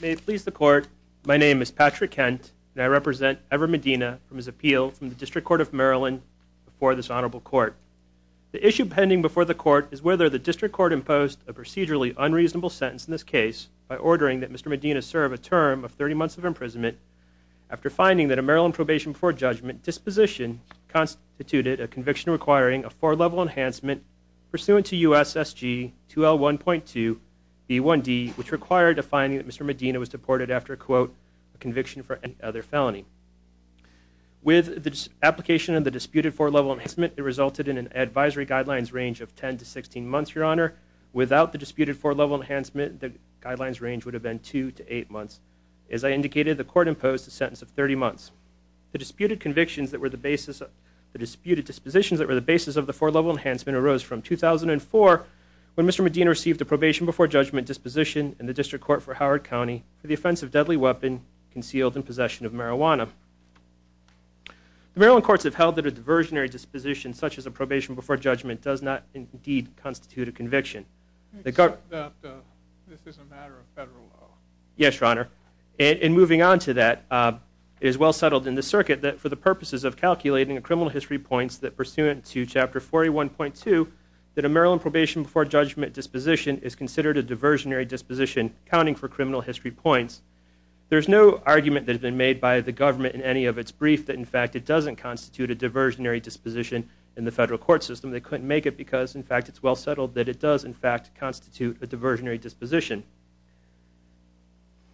May it please the Court, my name is Patrick Kent and I represent Ever Medina from his appeal from the District Court of Maryland before this Honorable Court. The issue pending before the Court is whether the District Court imposed a procedurally unreasonable sentence in this case by ordering that Mr. Medina serve a term of 30 months of imprisonment after finding that a Maryland probation before judgment disposition constituted a conviction requiring a four-level enhancement pursuant to USSG 2L1.2 B1D which required a finding that Mr. Medina was deported after a quote conviction for any other felony. With the application of the disputed four-level enhancement it resulted in an advisory guidelines range of 10 to 16 months, Your Honor. Without the disputed four-level enhancement the guidelines would have been two to eight months. As I indicated the Court imposed a sentence of 30 months. The disputed dispositions that were the basis of the four-level enhancement arose from 2004 when Mr. Medina received a probation before judgment disposition in the District Court for Howard County for the offense of deadly weapon concealed in possession of marijuana. The Maryland Courts have held that a diversionary disposition such as a probation before judgment does not indeed constitute a conviction. Yes, Your Honor. And moving on to that it is well settled in the circuit that for the purposes of calculating the criminal history points that pursuant to Chapter 41.2 that a Maryland probation before judgment disposition is considered a diversionary disposition counting for criminal history points. There is no argument that has been made by the government in any of its brief that in fact it doesn't constitute a diversionary disposition in the federal court system. They couldn't make it because in fact it's well settled that it does in fact constitute a diversionary disposition.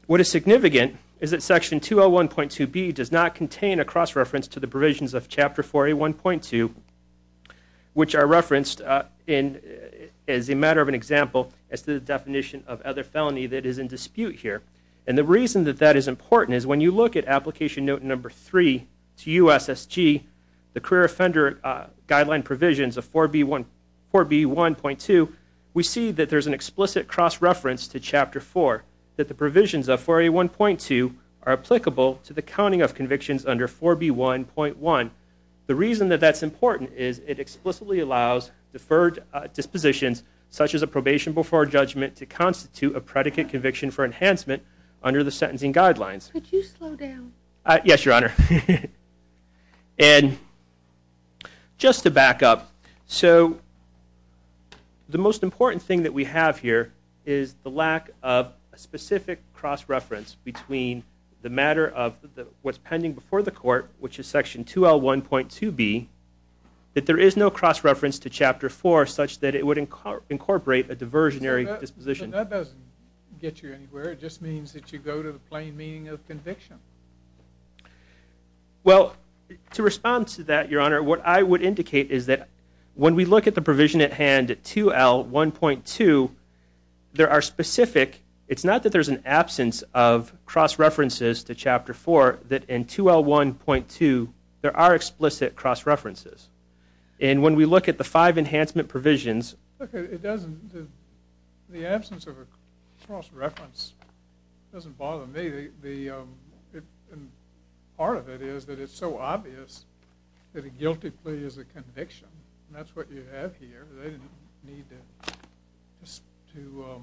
What is significant is that Section 201.2B does not contain a cross-reference to the provisions of Chapter 41.2 which are referenced in as a matter of an example as to the definition of other felony that is in dispute here. And the reason that that is important is when you look at application note number three to U.S.S.G., the career offender guideline provisions of 4B1.2, we see that there is an explicit cross-reference to Chapter 4 that the provisions of 4A1.2 are applicable to the counting of convictions under 4B1.1. The reason that that's important is it explicitly allows deferred dispositions such as a probation before judgment to constitute a predicate conviction for enhancement under the sentencing guidelines. Could you slow down? Yes, Your Honor. And just to back up, so the most important thing that we have here is the lack of a specific cross-reference between the matter of what's pending before the court, which is Section 201.2B, that there is no cross-reference to Chapter 4 such that it would incorporate a diversionary disposition. That doesn't get you anywhere. It just means that you go to the plain meaning of conviction. Well, to respond to that, Your Honor, what I would indicate is that when we look at the provision at hand at 2L1.2, there are specific, it's not that there's an absence of cross-references to Chapter 4, that in 2L1.2, there are explicit cross-references. And when we look at the five of a cross-reference, it doesn't bother me. Part of it is that it's so obvious that a guilty plea is a conviction. And that's what you have here. They didn't need to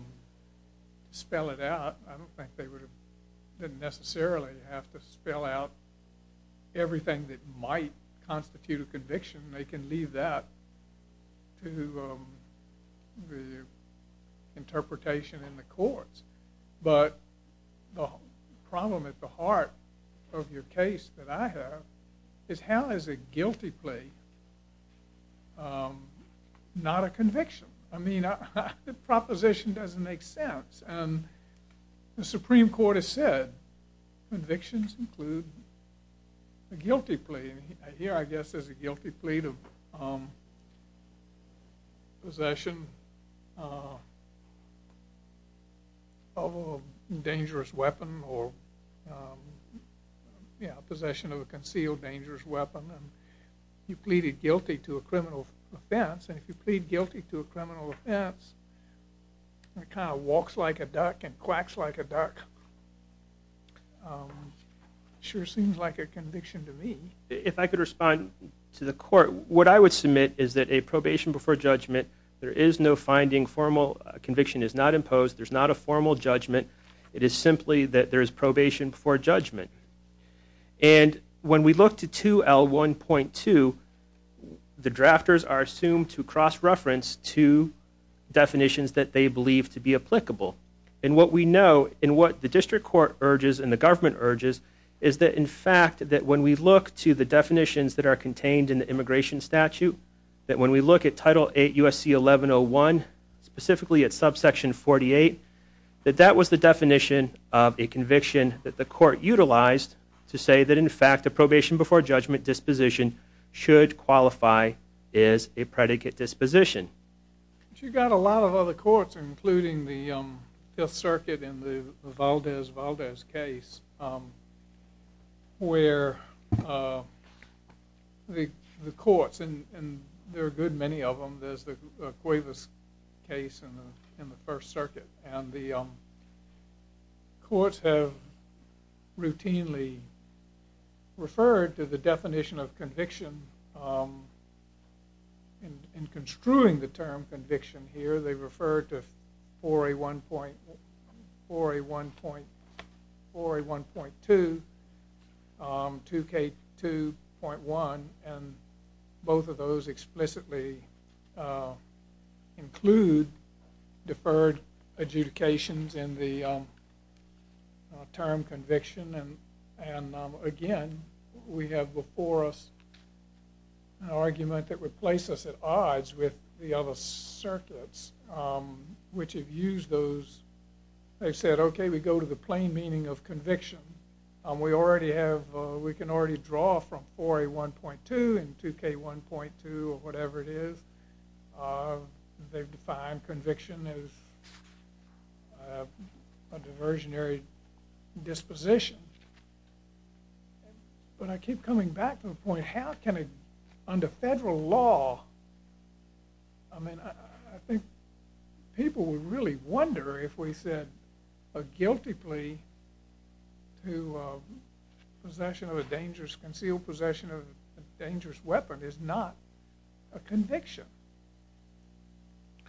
spell it out. I don't think they would have necessarily have to spell out everything that might constitute a conviction. They can leave that to the interpretation in the courts. But the problem at the heart of your case that I have is how is a guilty plea not a conviction? I mean, the proposition doesn't make sense. And the Supreme Court has said convictions include a guilty plea. And here, I guess, there's a guilty plea of possession of a dangerous weapon or possession of a concealed dangerous weapon. And you pleaded guilty to a criminal offense. And if you plead guilty to a criminal offense, it kind of walks like a duck and quacks like a duck. Sure seems like a conviction to me. If I could respond to the court, what I would submit is that a probation before judgment, there is no finding. Formal conviction is not imposed. There's not a formal judgment. It is simply that there is probation before judgment. And when we look to 2L1.2, the drafters are assumed to cross-reference two definitions that they believe to be applicable. And what we know and what the district court urges and the government urges is that, in fact, that when we look to the definitions that are contained in the immigration statute, that when we look at Title 8 U.S.C. 1101, specifically at subsection 48, that that was the definition of a conviction that the court utilized to say that, in fact, a probation before judgment disposition should qualify as a predicate disposition. But you've got a lot of other courts, including the Fifth Circuit in the Valdez-Valdez case, where the courts, and there are good many of them. There's the Cuevas case in the First Circuit. And the courts have routinely referred to the definition of conviction in construing the term conviction here. They refer to 4A1.2, 2K2.1, and both of those explicitly include deferred adjudications in the term conviction. And again, we have before us an argument that would place us at odds with the other circuits, which have used those. They've said, OK, we go to the plain meaning of conviction. We can already draw from 4A1.2 and 2K1.2 or whatever it is. They've defined conviction as a diversionary disposition. But I keep coming back to the point, how can it, under federal law, I mean, I think people would really wonder if we said a guilty plea to conceal possession of a dangerous weapon is not a conviction.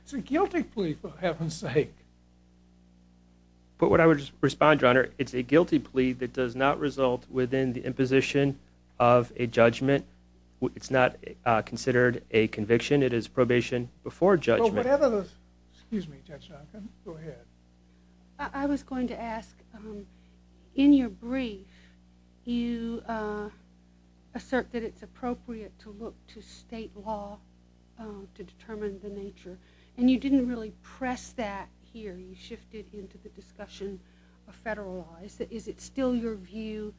It's a guilty plea for heaven's sake. But what I would respond to, Your Honor, it's a guilty plea that judgment. It's not considered a conviction. It is probation before judgment. Well, whatever the, excuse me, Judge Duncan. Go ahead. I was going to ask, in your brief, you assert that it's appropriate to look to state law to determine the nature. And you didn't really press that here. You shifted into the discussion of federal law. Is it still your view,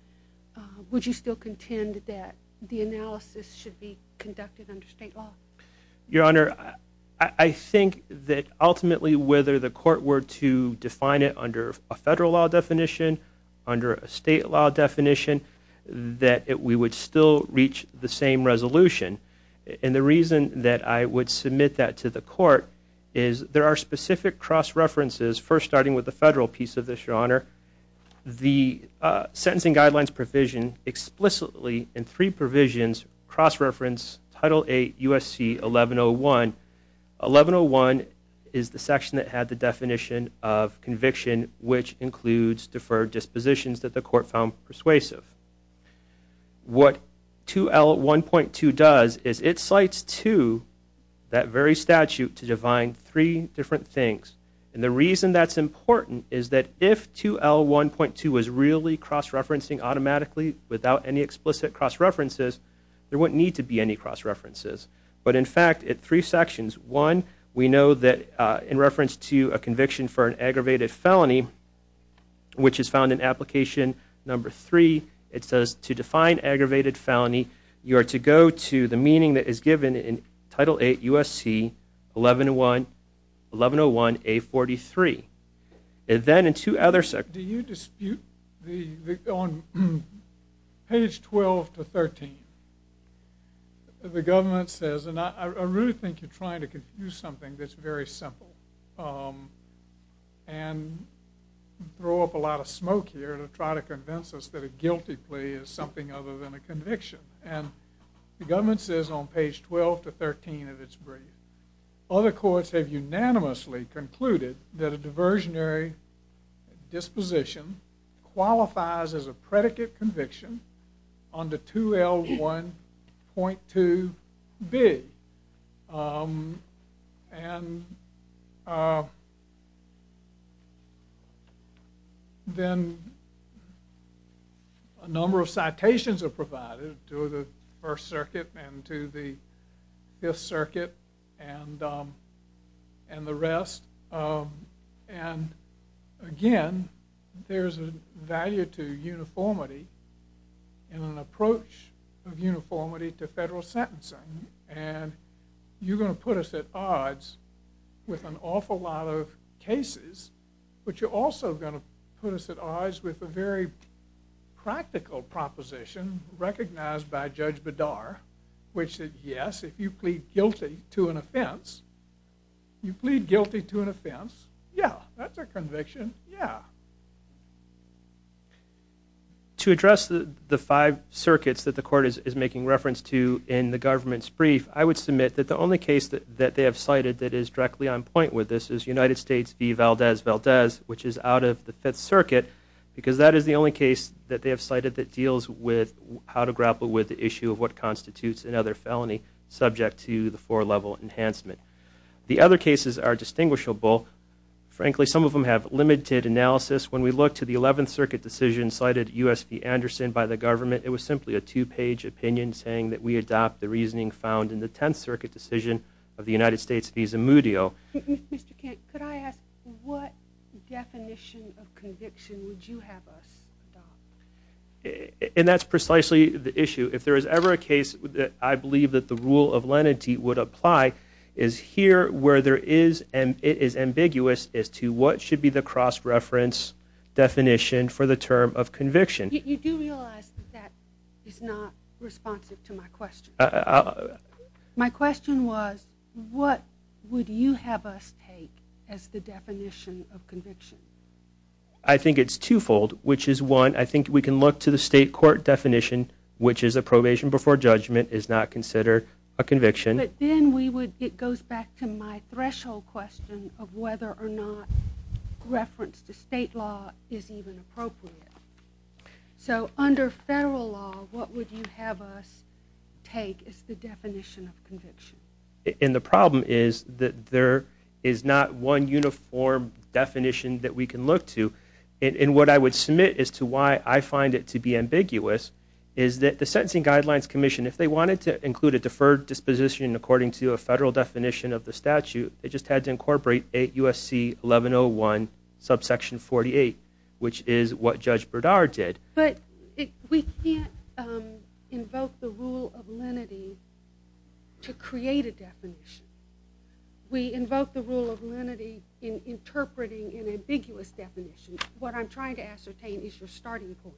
would you still contend that the analysis should be conducted under state law? Your Honor, I think that ultimately, whether the court were to define it under a federal law definition, under a state law definition, that we would still reach the same resolution. And the reason that I would submit that to the court is there are specific cross-references, first starting with the federal piece of this, Your Honor. The Sentencing Guidelines provision explicitly, in three provisions, cross-reference Title 8 U.S.C. 1101. 1101 is the section that had the definition of conviction, which includes deferred dispositions that the court found persuasive. What 2L1.2 does is it cites to that very statute to define three different things. And the reason that's important is that if 2L1.2 was really cross-referencing automatically without any explicit cross-references, there wouldn't need to be any cross-references. But in fact, at three sections, one, we know that in reference to a conviction for an aggravated felony, which is found in application number three, it says to define aggravated felony, you are to go to the meaning that is given in Title 8 U.S.C. 1101 A43. And then in two other sections. Do you dispute the, on page 12 to 13, the government says, and I really think you're trying to confuse something that's very simple, and throw up a lot of smoke here to try to convince us that a guilty plea is something other than a conviction. And the government says on page 12 to 13 of its brief, other courts have unanimously concluded that a diversionary disposition qualifies as a predicate conviction under 2L1.2B. And then a number of citations are provided to the First Circuit and to the Fifth Circuit and the rest. And again, there's a value to uniformity and an approach of uniformity to with an awful lot of cases. But you're also going to put us at odds with a very practical proposition recognized by Judge Bedar, which is, yes, if you plead guilty to an offense, you plead guilty to an offense. Yeah, that's a conviction. Yeah. To address the five circuits that the court is making reference to in the government's brief, I would submit that the only case that they have cited that is directly on point with this is United States v. Valdez-Valdez, which is out of the Fifth Circuit, because that is the only case that they have cited that deals with how to grapple with the issue of what constitutes another felony subject to the four-level enhancement. The other cases are distinguishable. Frankly, some of them have limited analysis. When we look to the Eleventh Circuit decision cited, U.S. v. Anderson, by the Tenth Circuit decision of the United States v. Zamudio. Mr. Kent, could I ask what definition of conviction would you have us adopt? And that's precisely the issue. If there is ever a case that I believe that the rule of lenity would apply is here where there is and it is ambiguous as to what should be the cross-reference definition for the term of conviction. You do realize that that is not responsive to my question. My question was, what would you have us take as the definition of conviction? I think it's two-fold, which is one, I think we can look to the state court definition, which is a probation before judgment is not considered a conviction. But then we would, it goes back to my threshold question of whether or not reference to state law is even appropriate. So under federal law, what would you have us take as the definition of conviction? And the problem is that there is not one uniform definition that we can look to. And what I would submit as to why I find it to be ambiguous is that the Sentencing Guidelines Commission, if they wanted to include a deferred disposition according to a federal definition of the statute, it just But we can't invoke the rule of lenity to create a definition. We invoke the rule of lenity in interpreting an ambiguous definition. What I'm trying to ascertain is your starting point.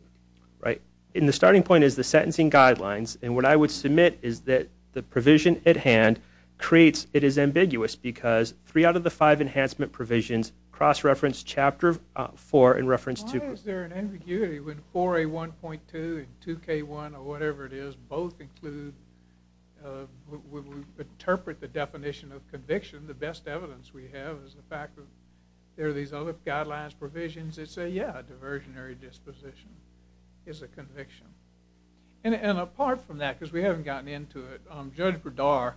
Right. And the starting point is the sentencing guidelines. And what I would submit is that the provision at hand creates, it is ambiguous because three out of the five enhancement provisions cross-reference Chapter 4 in reference to Why is there an ambiguity when 4A1.2 and 2K1 or whatever it is, both include, would interpret the definition of conviction, the best evidence we have is the fact that there are these other guidelines, provisions that say, yeah, a diversionary disposition is a conviction. And apart from that, because we haven't gotten into it, Judge Bredar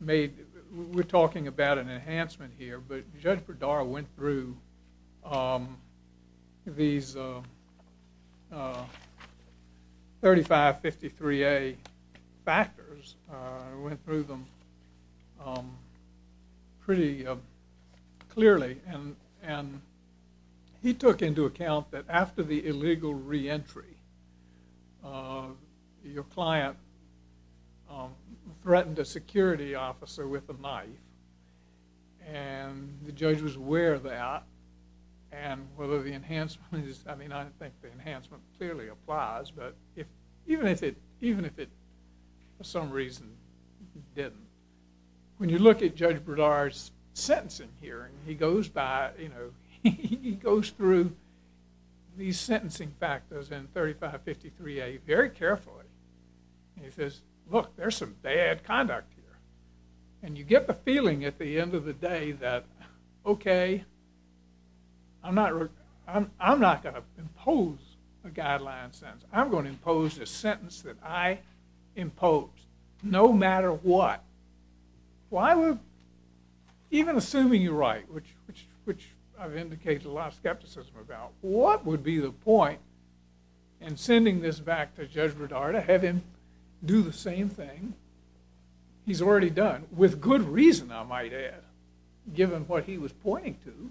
made, we're talking about an enhancement here, but Judge Bredar went through these 3553A factors, went through them pretty clearly. And he took into account that after the illegal reentry, your client threatened a security officer with a knife. And the judge was aware of that. And whether the enhancement is, I mean, I think the enhancement clearly applies. But even if it, for some reason, didn't, when you look at Judge Bredar's sentencing here, he goes by, you know, he goes through these sentencing factors in 3553A very carefully. And he says, look, there's some bad conduct here. And you get the feeling at the end of the day that, okay, I'm not going to impose a guideline sentence. I'm going to impose a sentence that I which I've indicated a lot of skepticism about. What would be the point in sending this back to Judge Bredar to have him do the same thing he's already done, with good reason, I might add, given what he was pointing to?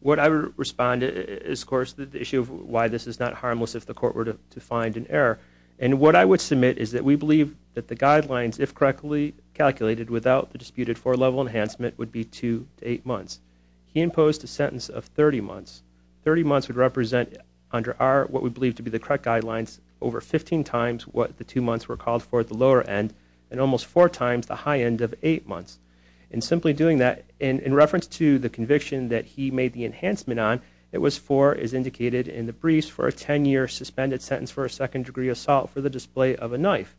What I would respond to is, of course, the issue of why this is not harmless if the court were to find an error. And what I would submit is that we believe that the guidelines, if correctly calculated without the disputed four-level enhancement, would be two to eight months. He imposed a sentence of 30 months. 30 months would represent under our, what we believe to be the correct guidelines, over 15 times what the two months were called for at the lower end, and almost four times the high end of eight months. In simply doing that, in reference to the conviction that he made the enhancement on, it was for, as indicated in the briefs, for a 10-year suspended sentence for a second degree assault for the display of a knife.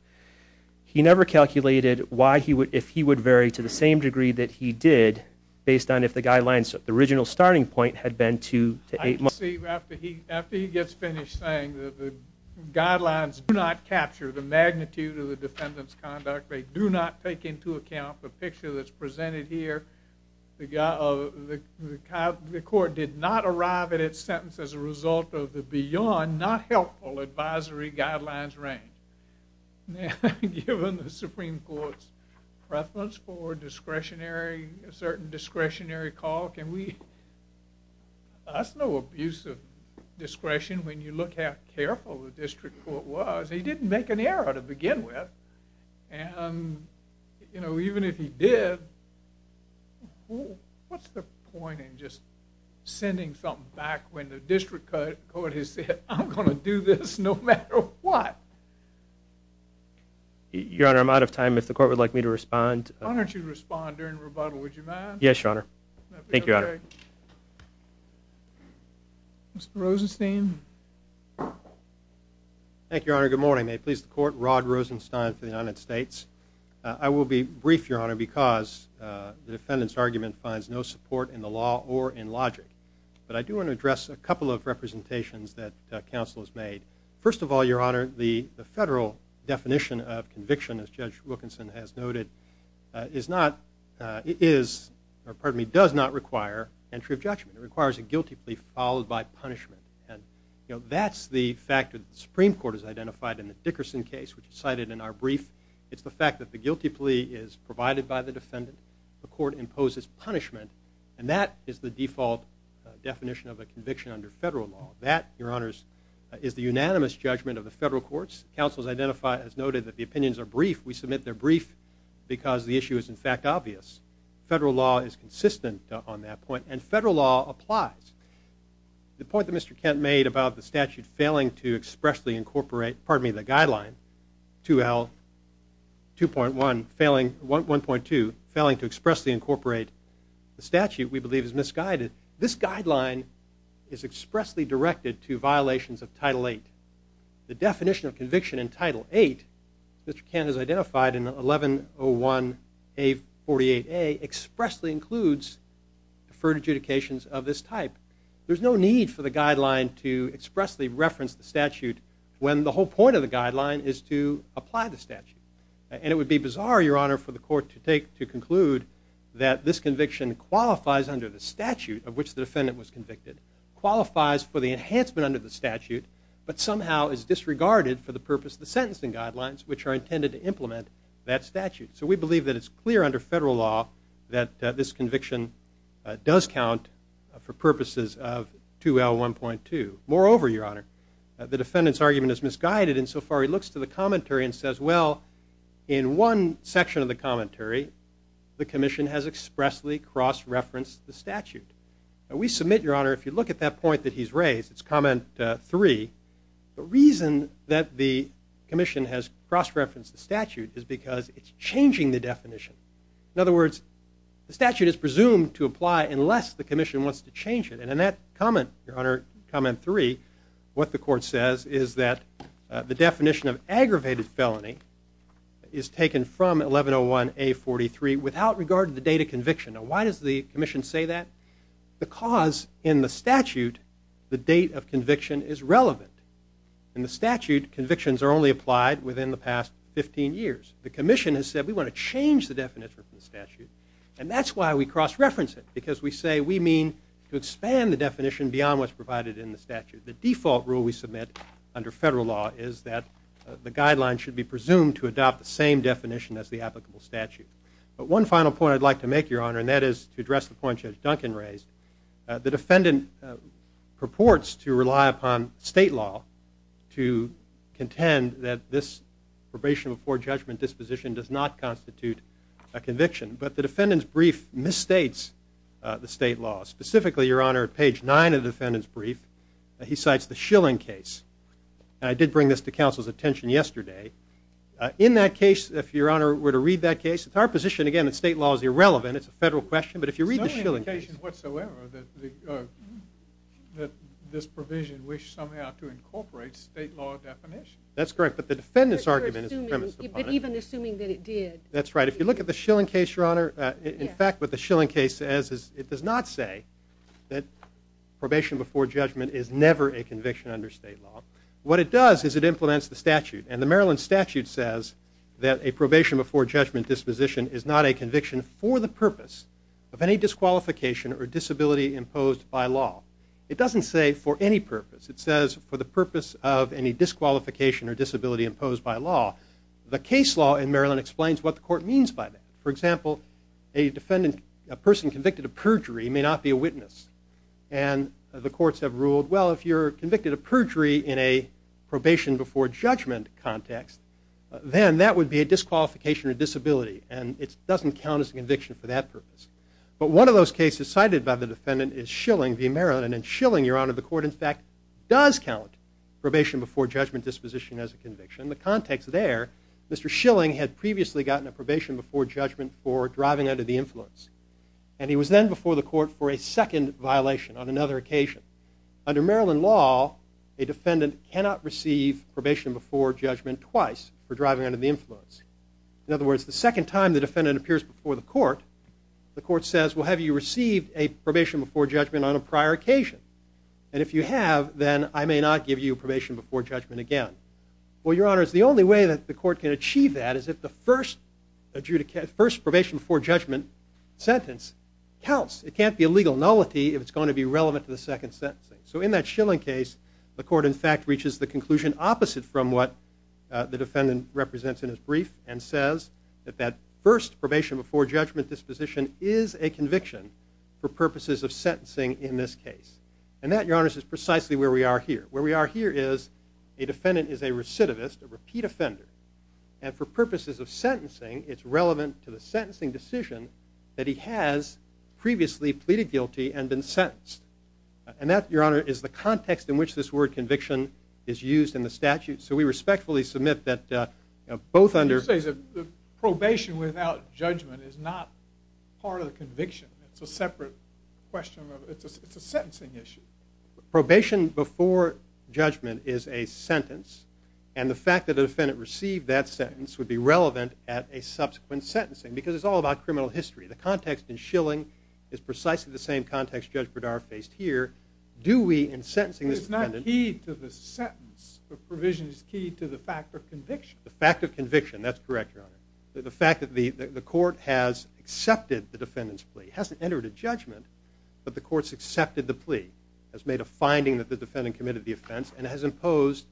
He never calculated why he would, if he would vary to the same degree that he did, based on if the guidelines, the original starting point had been two to eight months. After he gets finished saying that the guidelines do not capture the magnitude of the defendant's conduct, they do not take into account the picture that's presented here, the court did not arrive at its sentence as a result of the beyond, not helpful advisory guidelines range. Now, given the Supreme Court's preference for discretionary, a certain discretionary call, can we, that's no abuse of discretion when you look how careful the district court was. He didn't make an error to begin with, and you know, even if he did, what's the point in just sending something back when the district court has said, I'm going to do this no matter what? Your Honor, I'm out of time. If the court would like me to respond. Why don't you respond during rebuttal, would you mind? Yes, Your Honor. Thank you, Your Honor. Mr. Rosenstein. Thank you, Your Honor. Good morning. May it please the court, Rod Rosenstein for the defendant's argument finds no support in the law or in logic, but I do want to address a couple of representations that counsel has made. First of all, Your Honor, the federal definition of conviction, as Judge Wilkinson has noted, is not, is, or pardon me, does not require entry of judgment. It requires a guilty plea followed by punishment, and you know, that's the factor the Supreme Court has identified in the Dickerson case, which is cited in our brief. It's the fact that the guilty plea is provided by the defendant, the court imposes punishment, and that is the default definition of a conviction under federal law. That, Your Honors, is the unanimous judgment of the federal courts. Counsel has identified, has noted that the opinions are brief. We submit their brief because the issue is in fact obvious. Federal law is consistent on that point, and federal law applies. The point that Mr. Kent made about the statute failing to expressly incorporate, pardon me, the guideline 2L, 2.1, failing, 1.2, failing to expressly incorporate the statute we believe is misguided, this guideline is expressly directed to violations of Title VIII. The definition of conviction in Title VIII, Mr. Kent has identified in 1101A48A, expressly includes deferred adjudications of this type. There's no need for the guideline to expressly reference the statute when the whole point of the guideline is to apply the statute. And it would be bizarre, Your Honor, for the court to take, to conclude that this conviction qualifies under the statute of which the defendant was convicted, qualifies for the enhancement under the statute, but somehow is disregarded for the purpose of the sentencing guidelines, which are intended to implement that statute. So we believe that it's clear under federal law that this conviction does count for purposes of 2L, 1.2. Moreover, Your Honor, the defendant's argument is misguided insofar he looks to the commentary and says, well, in one section of the commentary, the commission has expressly cross-referenced the statute. We submit, Your Honor, if you look at that point that he's raised, it's comment three, the reason that the commission has cross-referenced the statute is because it's changing the definition. In other words, the statute is presumed to apply unless the commission wants to change it. And in that comment, Your Honor, comment three, what the court says is that the definition of aggravated felony is taken from 1101A43 without regard to the date of conviction. Now, why does the commission say that? Because in the statute, the date of conviction is relevant. In the statute, convictions are only applied within the past 15 years. The commission has said, we want to change the definition of the statute. And that's why we cross-reference it, because we say we mean to expand the definition beyond what's provided in the statute. The default rule we submit under federal law is that the guideline should be presumed to adopt the same definition as the applicable statute. But one final point I'd like to make, Your Honor, and that is to address the point Judge Duncan raised, the defendant purports to rely upon state law to contend that this probation before judgment disposition does not constitute a conviction. But the defendant's brief misstates the state law. Specifically, Your Honor, at page nine of the defendant's brief, he cites the Schilling case. And I did bring this to counsel's attention yesterday. In that case, if Your Honor were to read that case, it's our position, again, that state law is irrelevant. It's a federal question. But if you read the Schilling case. There's no indication whatsoever that this provision wished somehow to incorporate state law definition. That's correct. But the defendant's argument is premised upon it. But even assuming that it did. That's right. If you look at the Schilling case, Your Honor, in fact, what the Schilling case says is it does not say that probation before judgment is never a conviction under state law. What it does is it implements the statute. And the Maryland statute says that a probation before judgment disposition is not a conviction for the purpose of any disqualification or disability imposed by law. It doesn't say for any purpose. It says for the court means by that. For example, a person convicted of perjury may not be a witness. And the courts have ruled, well, if you're convicted of perjury in a probation before judgment context, then that would be a disqualification or disability. And it doesn't count as a conviction for that purpose. But one of those cases cited by the defendant is Schilling v. Maryland. And Schilling, Your Honor, the court, in fact, does count probation before judgment disposition as a conviction. The context there, Mr. Schilling had previously gotten a probation before judgment for driving under the influence. And he was then before the court for a second violation on another occasion. Under Maryland law, a defendant cannot receive probation before judgment twice for driving under the influence. In other words, the second time the defendant appears before the court, the court says, well, have you received a probation before judgment on Well, Your Honor, the only way that the court can achieve that is if the first probation before judgment sentence counts. It can't be a legal nullity if it's going to be relevant to the second sentencing. So in that Schilling case, the court, in fact, reaches the conclusion opposite from what the defendant represents in his brief and says that that first probation before judgment disposition is a conviction for purposes of sentencing in this is a recidivist, a repeat offender. And for purposes of sentencing, it's relevant to the sentencing decision that he has previously pleaded guilty and been sentenced. And that, Your Honor, is the context in which this word conviction is used in the statute. So we respectfully submit that both under probation without judgment is not part of the conviction. It's a separate question. It's a sentencing issue. Probation before judgment is a sentence. And the fact that the defendant received that sentence would be relevant at a subsequent sentencing. Because it's all about criminal history. The context in Schilling is precisely the same context Judge Berdar faced here. Do we, in sentencing this defendant. It's not key to the sentence. The provision is key to the fact of conviction. The fact of conviction. That's correct, Your Honor. The fact that the court has accepted the defendant's plea, hasn't entered a judgment, but the court's accepted the plea, has made a finding that the defendant committed the offense, and has imposed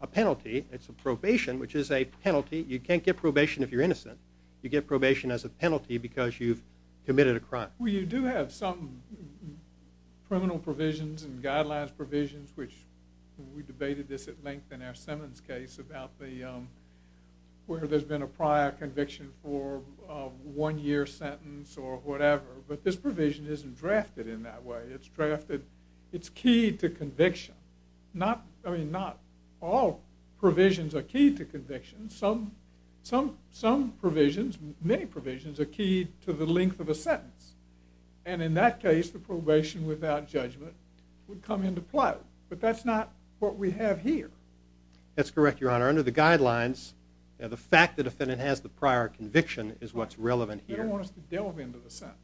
a penalty. It's a probation, which is a penalty. You can't get probation if you're innocent. You get probation as a penalty because you've committed a crime. Well, you do have some criminal provisions and guidelines provisions, which we debated this at Simmons' case about the, where there's been a prior conviction for a one-year sentence or whatever. But this provision isn't drafted in that way. It's drafted, it's key to conviction. Not, I mean, not all provisions are key to conviction. Some provisions, many provisions, are key to the length of a sentence. And in that case, the probation without judgment would come into play. But that's not what we have here. That's correct, Your Honor. Under the guidelines, the fact that the defendant has the prior conviction is what's relevant here. They don't want us to delve into the sentence.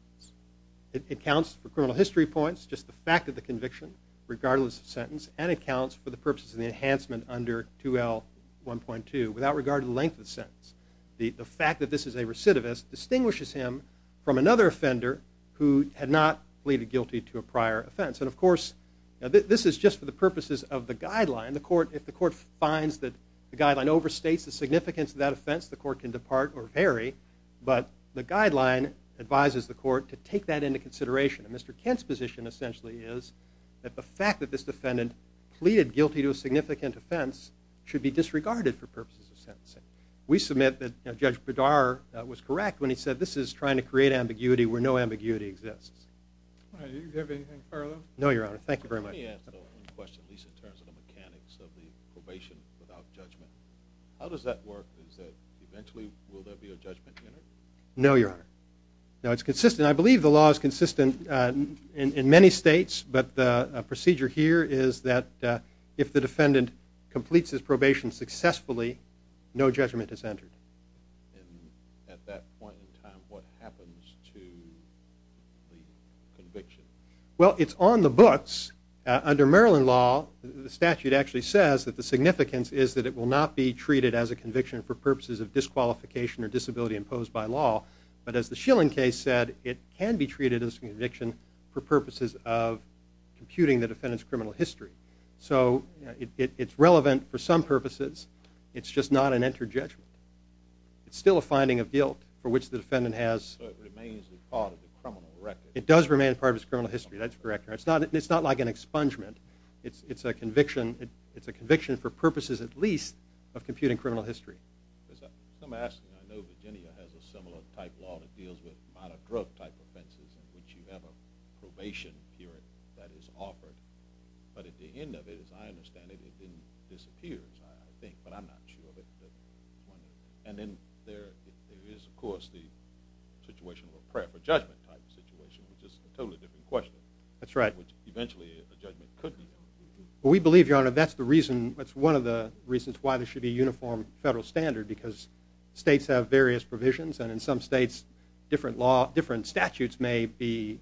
It accounts for criminal history points, just the fact of the conviction, regardless of sentence, and it counts for the purposes of the enhancement under 2L1.2, without regard to the length of the sentence. The fact that this is a recidivist distinguishes him from another offender who had not pleaded guilty to a prior offense. And of course, this is just for the purposes of the guideline. The court, if the court finds that the guideline overstates the significance of that offense, the court can depart or vary. But the guideline advises the court to take that into consideration. And Mr. Kent's position essentially is that the fact that this defendant pleaded guilty to a significant offense should be disregarded for purposes of sentencing. We submit that Judge Bedar was correct when he said this is trying to create ambiguity where no ambiguity exists. All right. Do you have anything further? No, Your Honor. Thank you very much. Let me ask another question, at least in terms of the mechanics of the probation without judgment. How does that work? Is that eventually will there be a judgment? No, Your Honor. Now, it's consistent. I believe the law is consistent in many states, but the procedure here is that if the defendant completes his probation successfully, no judgment is entered. And at that point in time, what happens to the conviction? Well, it's on the books. Under Maryland law, the statute actually says that the significance is that it will not be treated as a conviction for purposes of disqualification or disability imposed by law. But as the Schilling case said, it can be treated as a conviction for purposes of computing the defendant's criminal history. So it's relevant for some purposes. It's just not an entered judgment. It's still a finding of guilt for which the defendant has... So it remains a part of the criminal record. It does remain part of his criminal history. That's correct, Your Honor. It's not like an expungement. It's a conviction for purposes, at least, of computing criminal history. Because I'm asking, I know Virginia has a similar type law that deals with minor drug type offenses in which you have a probation period that is offered. But at the end of it, as I understand it, it disappears, I think. But I'm not sure. And then there is, of course, the situation of a prayer for judgment type situation, which is a totally different question. That's right. Which eventually a judgment could be held. Well, we believe, Your Honor, that's one of the reasons why there should be a uniform federal standard. Because states have various provisions. And in some states, different statutes may be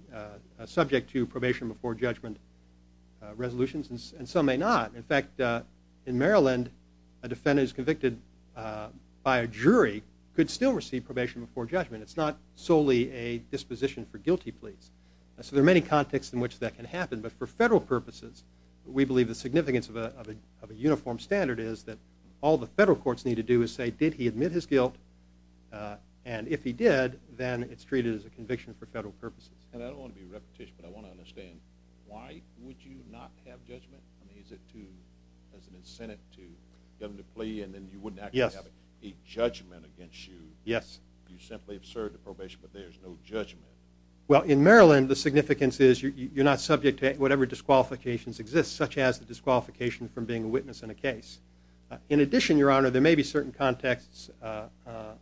subject to probation before judgment resolutions. And some may not. In fact, in Maryland, a defendant is convicted by a jury, could still receive probation before judgment. It's not solely a disposition for guilty pleas. So there are many contexts in which that can happen. But for federal purposes, we believe the significance of a uniform standard is that all the federal courts need to do is say, did he admit his guilt? And if he did, then it's treated as a conviction for federal purposes. And I don't want to be repetitious, but I want to understand, why would you not have judgment? I mean, is it to, as an incentive to go to plea and then you wouldn't actually have a judgment against you? Yes. You simply absurd to probation, but there's no judgment. Well, in Maryland, the significance is you're not subject to whatever disqualifications exist, such as the disqualification from being a witness in a case. In addition, Your Honor, there may be certain contexts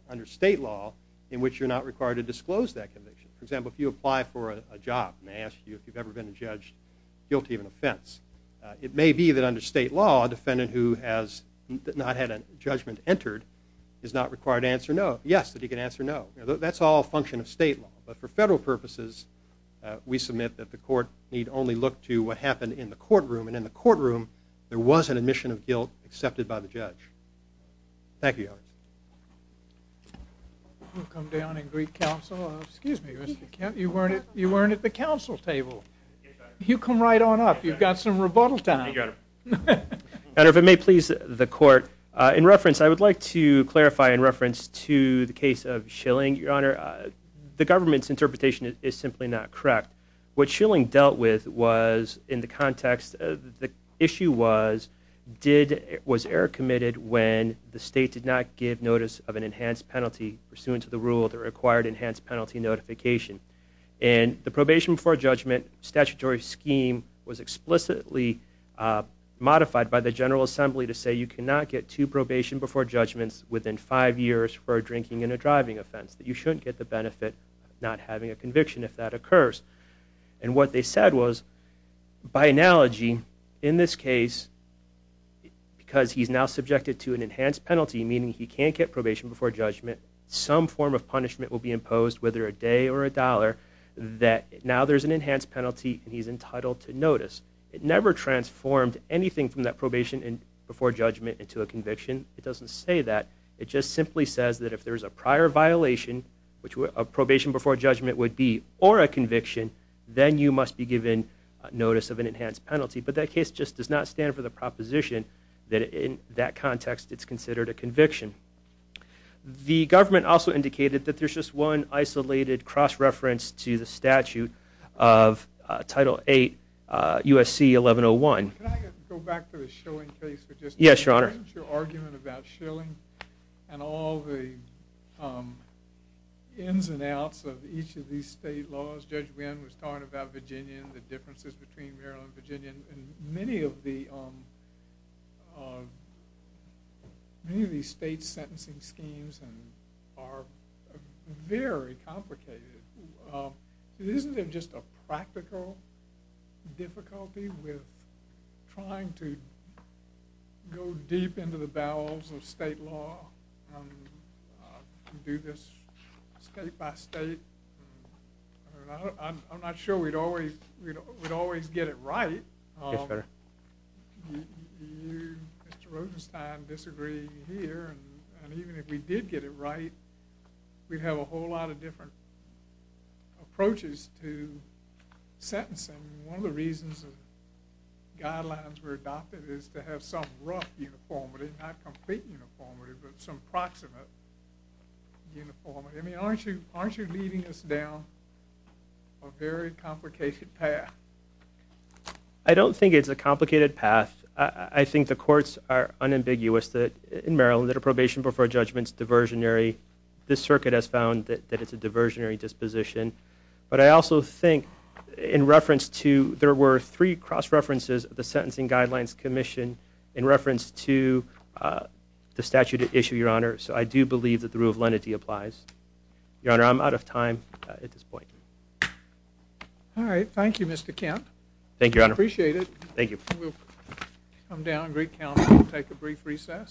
under state law in which you're not required to disclose that conviction. For example, if you apply for a job and they ask you if you've ever been a judge, guilty of an offense. It may be that under state law, a defendant who has not had a judgment entered is not required to answer no. Yes, that he can answer no. That's all a function of state law. But for federal purposes, we submit that the court need only look to what happened in the courtroom. And in the courtroom, there was an admission of guilt accepted by the judge. Thank you. We'll come down and greet counsel. Excuse me, Mr. Kent. You weren't at the council table. You come right on up. You've got some rebuttal time. And if it may please the court, in reference, I would like to clarify in reference to the case of Schilling, Your Honor, the government's interpretation is simply not correct. What Schilling dealt with was in the context of the issue was did was error committed when the state did not give notice of an enhanced penalty pursuant to the rule that required enhanced penalty notification. And the probation for judgment statutory scheme was explicitly modified by the General Assembly to say you cannot get to probation before judgments within five years for drinking in a driving offense, that you shouldn't get the benefit, not having a and what they said was, by analogy, in this case, because he's now subjected to an enhanced penalty, meaning he can't get probation before judgment, some form of punishment will be imposed, whether a day or a dollar, that now there's an enhanced penalty and he's entitled to notice. It never transformed anything from that probation and before judgment into a conviction. It doesn't say that. It just simply says that if there's a prior violation, which a probation before judgment would be, or a conviction, then you must be given notice of an enhanced penalty. But that case just does not stand for the proposition that in that context it's considered a conviction. The government also indicated that there's just one isolated cross-reference to the statute of Title VIII USC 1101. Can I go back to the Schilling case? Yes, Your Honor. Your argument about Schilling and all the ins and outs of each of these state laws, Judge Wynn was talking about Virginia and the differences between Maryland and Virginia, and many of these state sentencing schemes are very complicated. Isn't there just a practical difficulty with trying to go deep into the bowels of state law and do this state by state? I'm not sure we'd always get it right. Yes, sir. Mr. Rosenstein disagreeing here, and even if we did get it right, we'd have a whole lot of different approaches to sentencing. One of the reasons guidelines were adopted is to have some rough uniformity, not complete uniformity, but some proximate uniformity. I mean, aren't you leading us down a very complicated path? I don't think it's a complicated path. I think the courts are unambiguous that in Maryland that a probation before judgment's diversionary. This circuit has found that it's a diversionary disposition, but I also think in reference to there were three cross-references of the Sentencing Guidelines Commission in reference to the statute at issue, Your Honor, so I do believe that the rule of lenity applies. Your Honor, I'm out of time at this point. All right. Thank you, Mr. Kent. Thank you, Your Honor. Appreciate it. Thank you. We'll come down and take a brief recess.